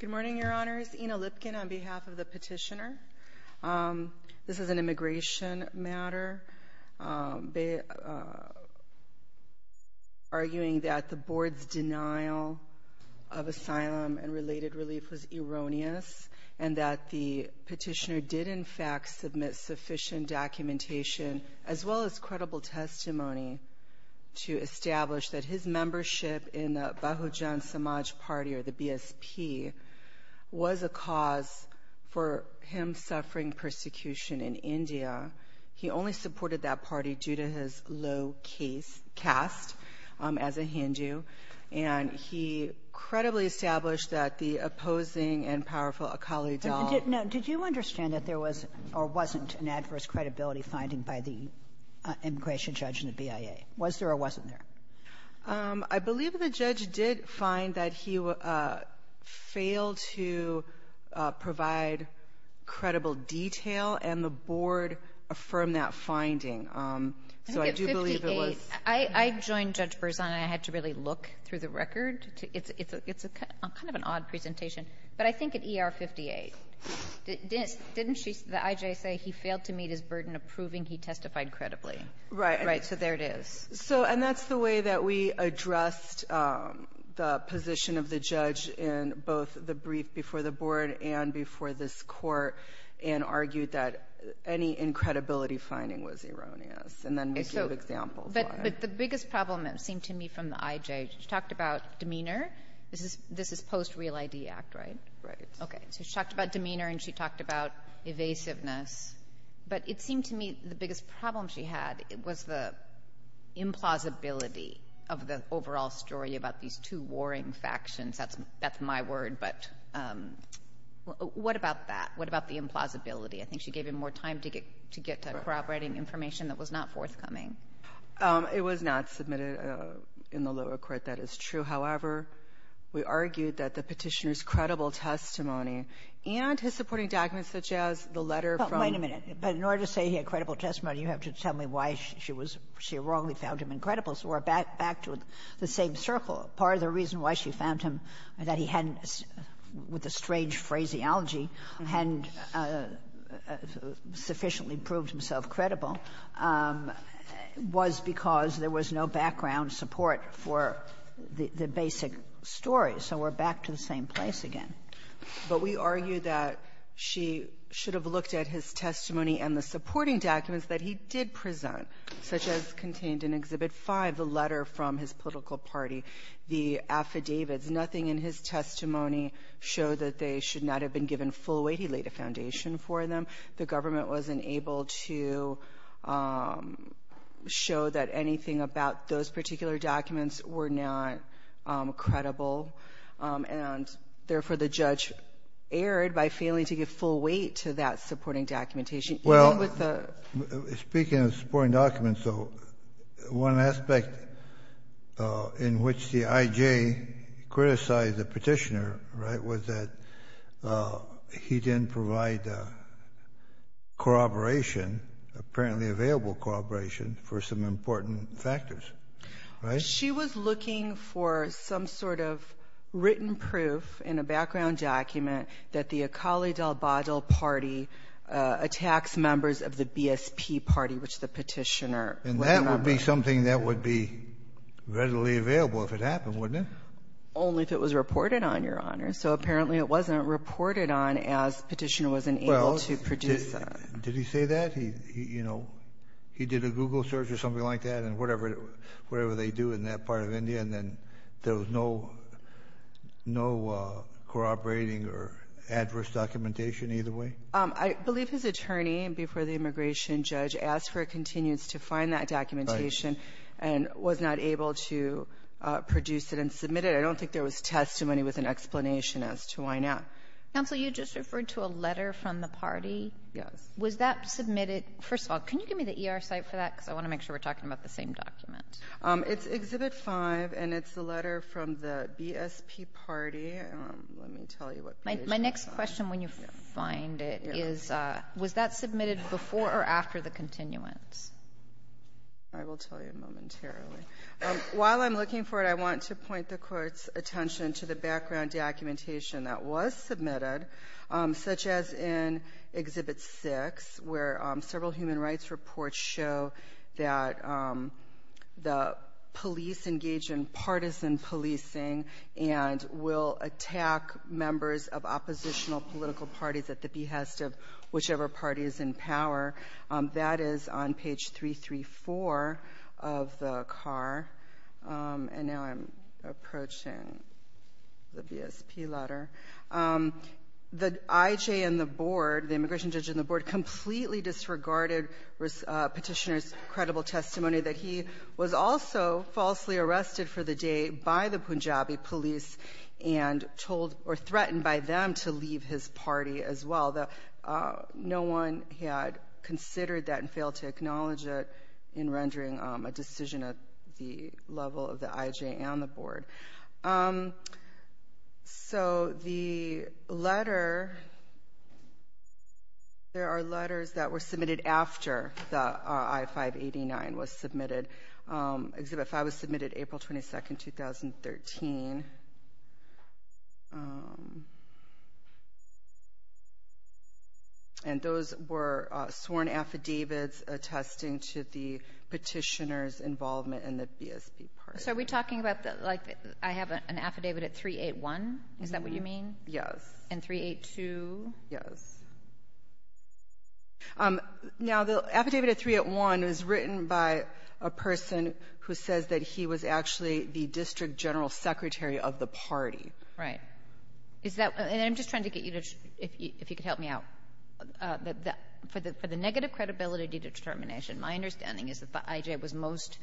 Good morning, Your Honors. Ina Lipkin on behalf of the petitioner. This is an immigration matter, arguing that the board's denial of asylum and related relief was erroneous and that the petitioner did in fact submit sufficient documentation as well as credible testimony to establish that his was a cause for him suffering persecution in India. He only supported that party due to his low case cast as a Hindu, and he credibly established that the opposing and powerful Akali Dal Kagan did not. Did you understand that there was or wasn't an adverse credibility finding by the immigration judge and the BIA? Was there or wasn't there? I believe the judge did find that he failed to provide credible detail, and the board affirmed that finding. So I do believe it was — I joined Judge Berzon, and I had to really look through the record. It's kind of an odd presentation. But I think at ER 58, didn't the IJ say he failed to meet his burden of proving he testified credibly? Right. Right. So there it is. So — and that's the way that we addressed the position of the judge in both the brief before the board and before this Court, and argued that any incredibility finding was erroneous, and then we gave examples why. But the biggest problem, it seemed to me, from the IJ, she talked about demeanor. This is post-Real ID Act, right? Right. Okay. So she talked about demeanor, and she talked about evasiveness. But it seemed to me the biggest problem she had was the implausibility of the overall story about these two warring factions. That's my word. But what about that? What about the implausibility? I think she gave him more time to get to corroborating information that was not forthcoming. It was not submitted in the lower court. That is true. However, we argued that the Petitioner's credible testimony and his supporting documents such as the letter from the — Wait a minute. But in order to say he had credible testimony, you have to tell me why she was — she wrongly found him incredible. So we're back to the same circle. Part of the reason why she found him that he hadn't, with a strange phraseology, hadn't sufficiently proved himself credible was because there was no background support for the basic story. So we're back to the same place again. But we argue that she should have looked at his testimony and the supporting documents that he did present, such as contained in Exhibit 5, the letter from his political party, the affidavits. Nothing in his testimony showed that they should not have been given full weight. He laid a foundation for them. The government wasn't able to show that anything about those particular documents were not credible, and, therefore, the judge erred by failing to give full weight to that supporting documentation, even with the — Speaking of supporting documents, though, one aspect in which the I.J. criticized the Petitioner, right, was that he didn't provide corroboration, apparently available corroboration, for some important factors, right? She was looking for some sort of written proof in a background document that the Akali Dalbadl party attacks members of the BSP party, which the Petitioner would have been. And that would be something that would be readily available if it happened, wouldn't it? Only if it was reported on, Your Honor. So apparently it wasn't reported on as Petitioner wasn't able to produce that. Well, did he say that? He, you know, he did a Google search or something like that, and whatever they do in that part of India, and then there was no corroborating or adverse documentation either way? I believe his attorney, before the immigration judge, asked for a continuance to find that documentation and was not able to produce it and submit it. I don't think there was testimony with an explanation as to why not. Counsel, you just referred to a letter from the party. Yes. Was that submitted — first of all, can you give me the ER site for that? Because I want to make sure we're talking about the same document. It's Exhibit 5, and it's the letter from the BSP party. Let me tell you what page it's on. My next question, when you find it, is was that submitted before or after the continuance? I will tell you momentarily. While I'm looking for it, I want to point the Court's attention to the background documentation that was submitted, such as in Exhibit 6, where several human rights reports show that the police engage in partisan policing and will attack members of oppositional political parties at the behest of whichever party is in power. That is on page 334 of the CAR. And now I'm approaching the BSP letter. The IJ and the board, the immigration judge and the board, completely disregarded Petitioner's credible testimony that he was also falsely arrested for the day by the Punjabi police and told — or threatened by them to leave his party as well. No one had considered that and failed to acknowledge it in rendering a decision at the level of the IJ and the board. So the letter — there are letters that were submitted after the I-589 was submitted. Exhibit 5 was submitted April 22, 2013. And those were sworn affidavits attesting to the Petitioner's involvement in the BSP party. So are we talking about, like, I have an affidavit at 381? Is that what you mean? Yes. And 382? Yes. Now, the affidavit at 381 was written by a person who says that he was actually the district general secretary of the party. Right. Is that — and I'm just trying to get you to — if you could help me out. For the negative credibility determination, my understanding is that the IJ was most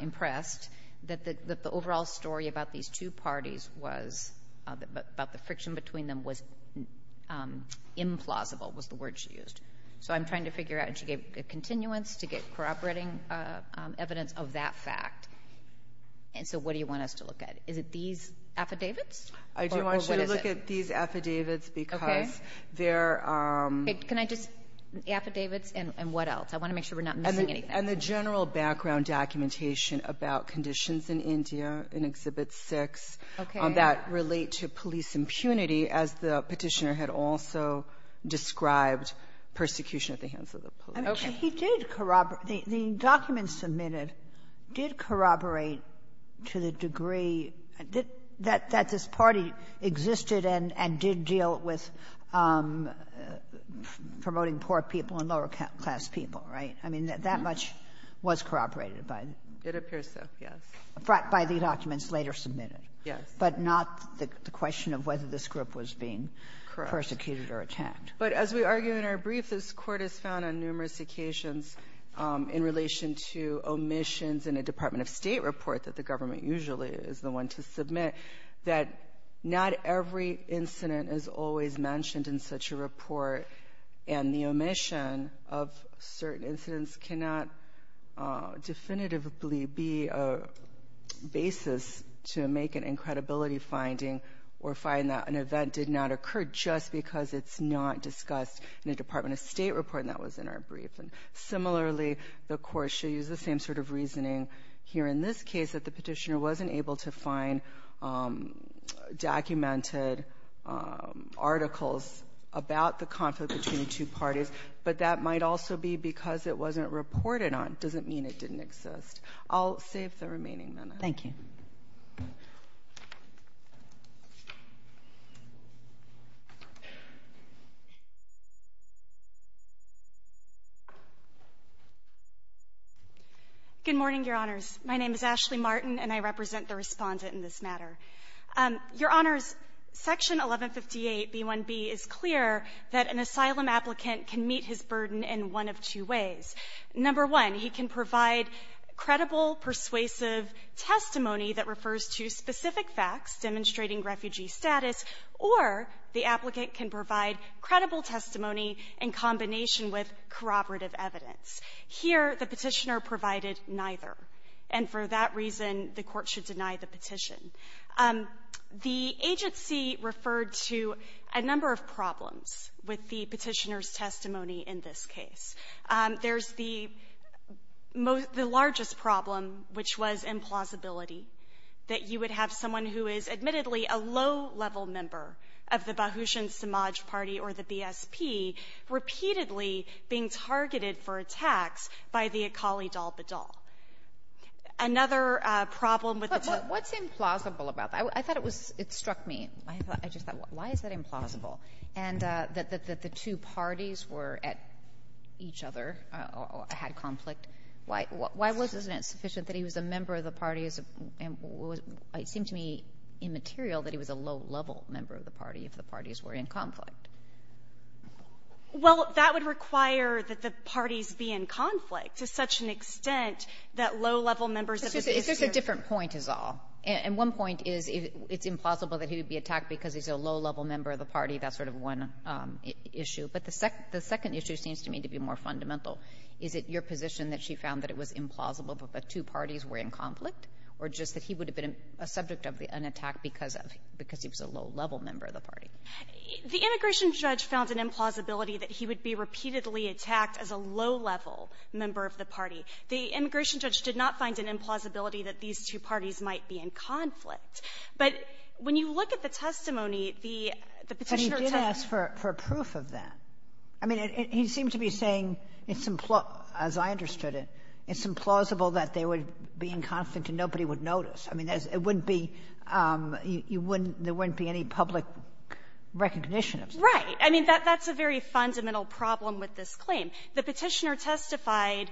impressed that the overall story about these two parties was — about the friction between them was implausible, was the word she used. So I'm trying to figure out a continuance to get corroborating evidence of that fact. And so what do you want us to look at? Is it these affidavits? I do want you to look at these affidavits because they're — Okay. Can I just — affidavits and what else? I want to make sure we're not missing anything. And the general background documentation about conditions in India in Exhibit 6 that relate to police impunity, as the Petitioner had also described, persecution at the hands of the police. Okay. He did corroborate — the documents submitted did corroborate to the degree that this party existed and did deal with promoting poor people and lower-class people, right? I mean, that much was corroborated by the — It appears so, yes. By the documents later submitted. Yes. But not the question of whether this group was being persecuted or attacked. But as we argue in our brief, this Court has found on numerous occasions in relation to omissions in a Department of State report that the government usually is the one to submit, that not every incident is always mentioned in such a report, and the certain incidents cannot definitively be a basis to make an incredibility finding or find that an event did not occur just because it's not discussed in a Department of State report, and that was in our brief. And similarly, the Court should use the same sort of reasoning here in this case that the Petitioner wasn't able to find documented articles about the conflict between two parties, but that might also be because it wasn't reported on. It doesn't mean it didn't exist. I'll save the remaining minutes. Thank you. Good morning, Your Honors. My name is Ashley Martin, and I represent the Respondent in this matter. Your Honors, Section 1158b1b is clear that an asylum applicant can meet his burden in one of two ways. Number one, he can provide credible, persuasive testimony that refers to specific facts demonstrating refugee status, or the applicant can provide credible testimony in combination with corroborative evidence. Here, the Petitioner provided neither, and for that reason, the Court should deny the Petition. The agency referred to a number of problems with the Petitioner's testimony in this case. There's the most the largest problem, which was implausibility, that you would have someone who is admittedly a low-level member of the Bahujan Samaj Party or the BSP repeatedly being targeted for attacks by the Akali Dal Badal. Another problem with the Petitioner was that he was a low-level member of the party if the parties were in conflict. if the parties were in conflict. Well, that would require that the parties be in conflict. To such an extent that low-level members of the party are going to be in conflict. Kagan. But there's a different point, is all. And one point is it's implausible that he would be attacked because he's a low-level member of the party. That's sort of one issue. But the second issue seems to me to be more fundamental. Is it your position that she found that it was implausible that the two parties were in conflict, or just that he would have been a subject of an attack because of he was a low-level member of the party? The immigration judge found an implausibility that he would be repeatedly attacked as a low-level member of the party. The immigration judge did not find an implausibility that these two parties might be in conflict. But when you look at the testimony, the Petitioner attempted to prove that. But he did ask for proof of that. I mean, he seemed to be saying it's implausible, as I understood it, it's implausible that they would be in conflict and nobody would notice. I mean, it wouldn't be you wouldn't there wouldn't be any public recognition Right. I mean, that's a very fundamental problem with this claim. The Petitioner testified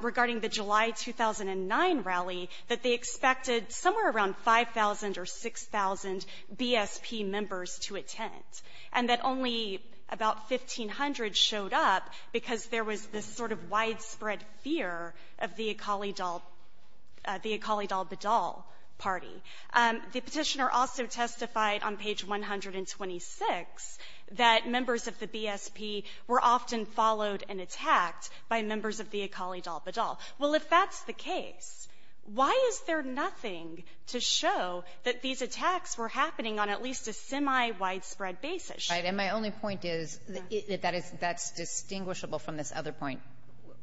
regarding the July 2009 rally that they expected somewhere around 5,000 or 6,000 BSP members to attend, and that only about 1,500 showed up because there was this sort of widespread fear of the Akali Dal Badal party. The Petitioner also testified on page 126 that members of the BSP were often followed and attacked by members of the Akali Dal Badal. Well, if that's the case, why is there nothing to show that these attacks were happening on at least a semi-widespread basis? Right. And my only point is that is that's distinguishable from this other point,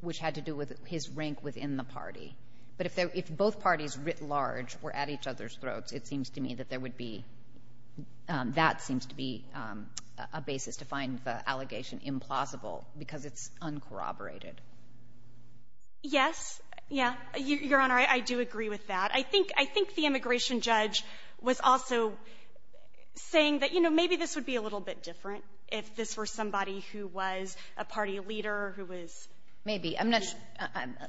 which had to do with his rank within the party. But if both parties writ large were at each other's throats, it seems to me that there would be that seems to be a basis to find the allegation implausible because it's often corroborated. Yes. Yeah. Your Honor, I do agree with that. I think the immigration judge was also saying that, you know, maybe this would be a little bit different if this were somebody who was a party leader, who was — Maybe. I'm not sure.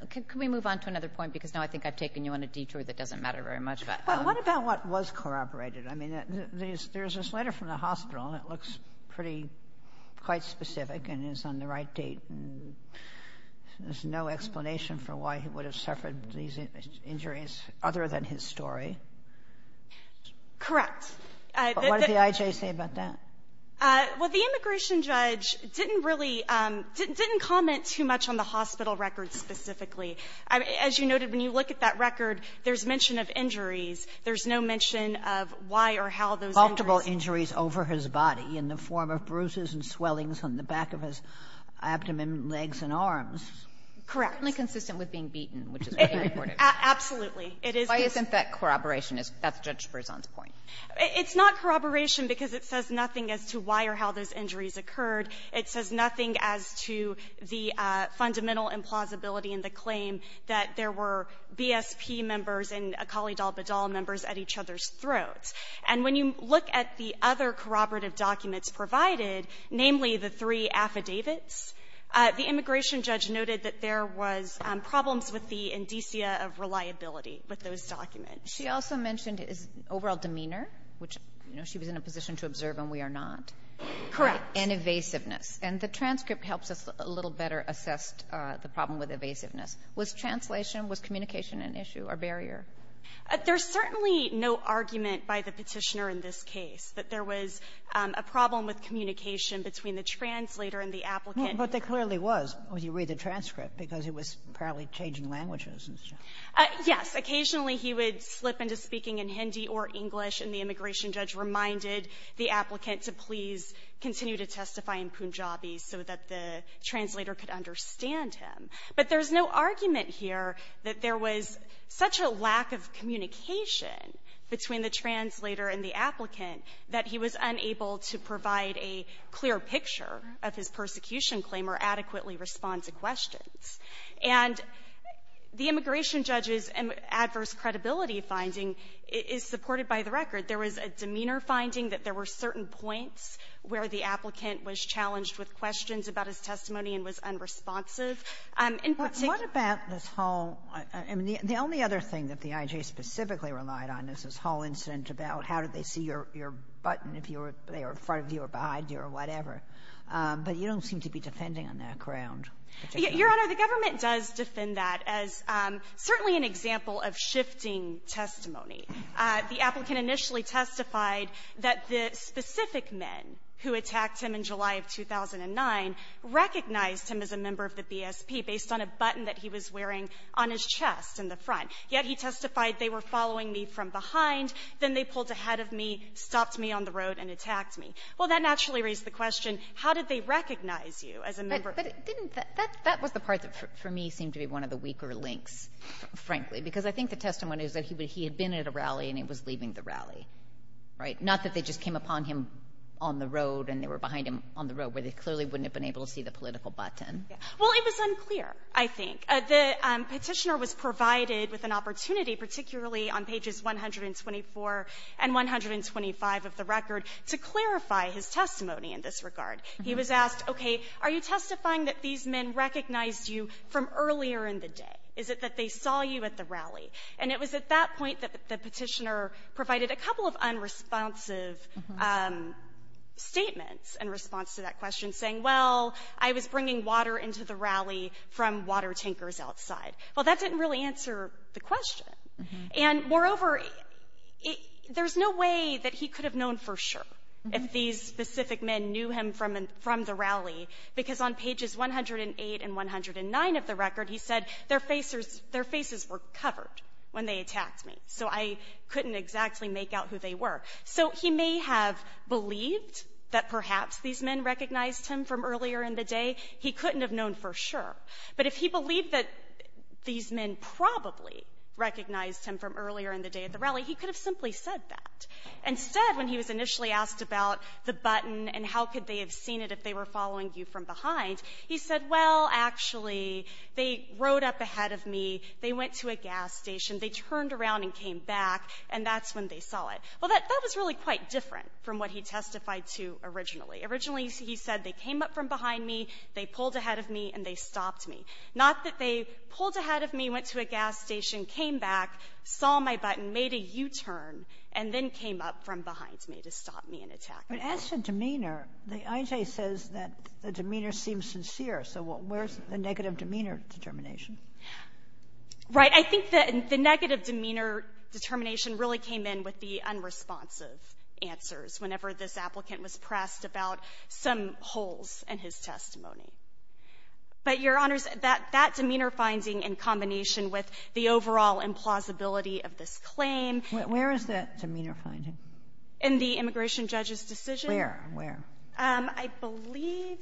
Could we move on to another point? Because now I think I've taken you on a detour that doesn't matter very much. But what about what was corroborated? I mean, there's this letter from the hospital, and it looks pretty — quite specific and is on the right date. There's no explanation for why he would have suffered these injuries other than his story. Correct. What did the I.J. say about that? Well, the immigration judge didn't really — didn't comment too much on the hospital record specifically. As you noted, when you look at that record, there's mention of injuries. There's no mention of why or how those injuries — But there were considerable injuries over his body in the form of bruises and swellings on the back of his abdomen, legs, and arms. Correct. Only consistent with being beaten, which is what he reported. Absolutely. It is — Why isn't that corroboration? That's Judge Berzon's point. It's not corroboration because it says nothing as to why or how those injuries occurred. It says nothing as to the fundamental implausibility in the claim that there were BSP members and Akali Dalbadal members at each other's throats. And when you look at the other corroborative documents provided, namely the three affidavits, the immigration judge noted that there was problems with the indicia of reliability with those documents. She also mentioned his overall demeanor, which, you know, she was in a position to observe and we are not. Correct. And evasiveness. And the transcript helps us a little better assess the problem with evasiveness. Was translation, was communication an issue or barrier? There's certainly no argument by the Petitioner in this case that there was a problem with communication between the translator and the applicant. But there clearly was, when you read the transcript, because it was apparently changing languages. Yes. Occasionally, he would slip into speaking in Hindi or English, and the immigration judge reminded the applicant to please continue to testify in Punjabi so that the translator could understand him. But there's no argument here that there was such a lack of communication between the translator and the applicant that he was unable to provide a clear picture of his persecution claim or adequately respond to questions. And the immigration judge's adverse credibility finding is supported by the record. There was a demeanor finding that there were certain points where the applicant was challenged with questions about his testimony and was unresponsive. In particular — What about this whole — I mean, the only other thing that the I.G.A. specifically relied on is this whole incident about how did they see your button, if they were in front of you or behind you or whatever. But you don't seem to be defending on that ground. Your Honor, the government does defend that as certainly an example of shifting testimony. The applicant initially testified that the specific men who attacked him in July of 2009 recognized him as a member of the BSP based on a button that he was wearing on his chest in the front. Yet he testified, they were following me from behind, then they pulled ahead of me, stopped me on the road, and attacked me. Well, that naturally raised the question, how did they recognize you as a member of the BSP? But didn't that — that was the part that, for me, seemed to be one of the weaker links, frankly, because I think the testimony was that he had been at a rally and he was leaving the rally, right? Not that they just came upon him on the road and they were behind him on the road, where they clearly wouldn't have been able to see the political button. Well, it was unclear, I think. The Petitioner was provided with an opportunity, particularly on pages 124 and 125 of the record, to clarify his testimony in this regard. He was asked, okay, are you testifying that these men recognized you from earlier in the day? Is it that they saw you at the rally? And it was at that point that the Petitioner provided a couple of unresponsive statements. In response to that question, saying, well, I was bringing water into the rally from water tankers outside. Well, that didn't really answer the question. And, moreover, there's no way that he could have known for sure if these specific men knew him from the rally, because on pages 108 and 109 of the record, he said, their faces were covered when they attacked me. So I couldn't exactly make out who they were. So he may have believed that perhaps these men recognized him from earlier in the day. He couldn't have known for sure. But if he believed that these men probably recognized him from earlier in the day at the rally, he could have simply said that. Instead, when he was initially asked about the button and how could they have seen it if they were following you from behind, he said, well, actually, they rode up ahead of me, they went to a gas station, they turned around and came back, and that's when they saw it. Well, that was really quite different from what he testified to originally. Originally, he said, they came up from behind me, they pulled ahead of me, and they stopped me. Not that they pulled ahead of me, went to a gas station, came back, saw my button, made a U-turn, and then came up from behind me to stop me and attack me. Kagan. But as for demeanor, the IJ says that the demeanor seems sincere. So where's the negative demeanor determination? Right. I think that the negative demeanor determination really came in with the unresponsive answers whenever this applicant was pressed about some holes in his testimony. But, Your Honors, that demeanor finding in combination with the overall implausibility of this claim --" Where is that demeanor finding? In the immigration judge's decision. Where? Where? I believe,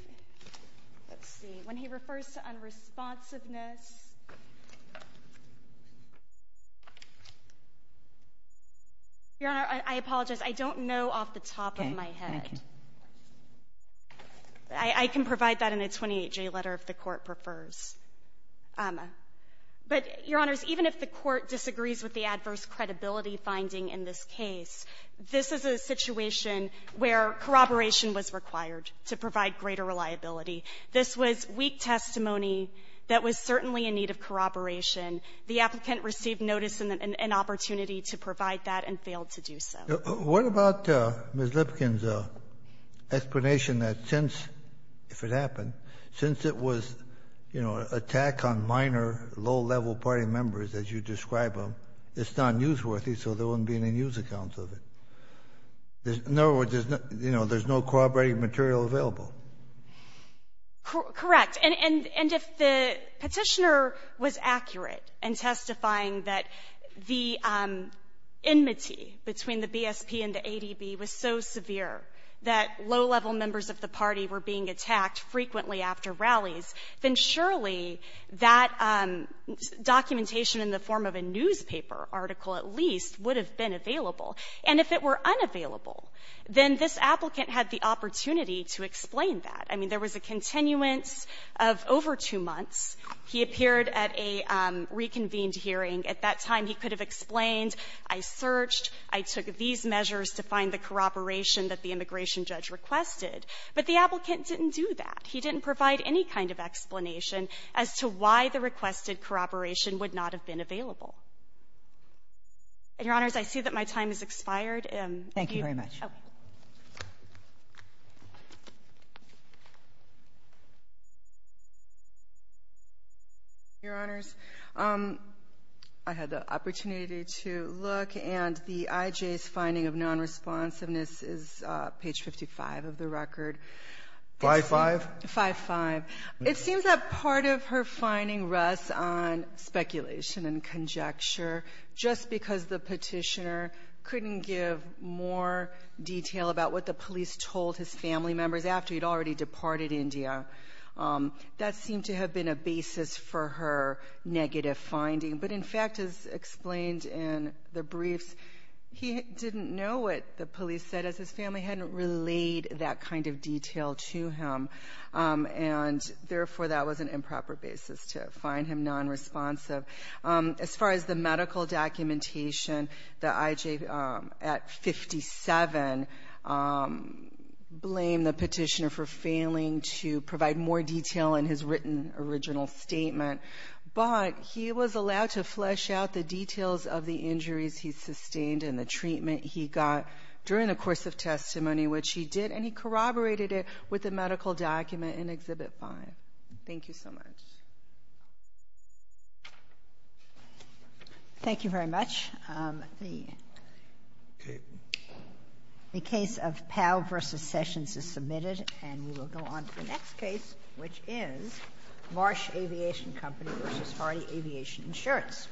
let's see. When he refers to unresponsiveness, Your Honor, I apologize. I don't know off the top of my head. Okay. Thank you. I can provide that in a 28J letter if the Court prefers. But, Your Honors, even if the Court disagrees with the adverse credibility finding in this case, this is a situation where corroboration was required to provide greater reliability. This was weak testimony that was certainly in need of corroboration. The applicant received notice and an opportunity to provide that and failed to do so. What about Ms. Lipkin's explanation that since, if it happened, since it was, you know, an attack on minor, low-level party members, as you describe them, it's not newsworthy, so there wouldn't be any news accounts of it? In other words, there's no corroborating material available. Correct. And if the Petitioner was accurate in testifying that the enmity between the BSP and the ADB was so severe that low-level members of the party were being attacked frequently after rallies, then surely that documentation in the form of a newspaper or article at least would have been available. And if it were unavailable, then this applicant had the opportunity to explain that. I mean, there was a continuance of over two months. He appeared at a reconvened hearing. At that time, he could have explained, I searched, I took these measures to find the corroboration that the immigration judge requested. But the applicant didn't do that. He didn't provide any kind of explanation as to why the requested corroboration would not have been available. And, Your Honors, I see that my time has expired. Thank you very much. Okay. Your Honors, I had the opportunity to look, and the IJ's finding of nonresponsiveness is page 55 of the record. 5-5? 5-5. It seems that part of her finding rests on speculation and conjecture, just because the petitioner couldn't give more detail about what the police told his family members after he'd already departed India. That seemed to have been a basis for her negative finding. But, in fact, as explained in the briefs, he didn't know what the police said as his family hadn't relayed that kind of detail to him. And, therefore, that was an improper basis to find him nonresponsive. As far as the medical documentation, the IJ at 57 blamed the petitioner for failing to provide more detail in his written original statement. But he was allowed to flesh out the details of the injuries he sustained and the treatment he got during the course of testimony, which he did. And he corroborated it with the medical document in Exhibit 5. Thank you so much. Thank you very much. The case of Powell v. Sessions is submitted, and we will go on to the next case, which is Marsh Aviation Company v. Hardy Aviation Insurance.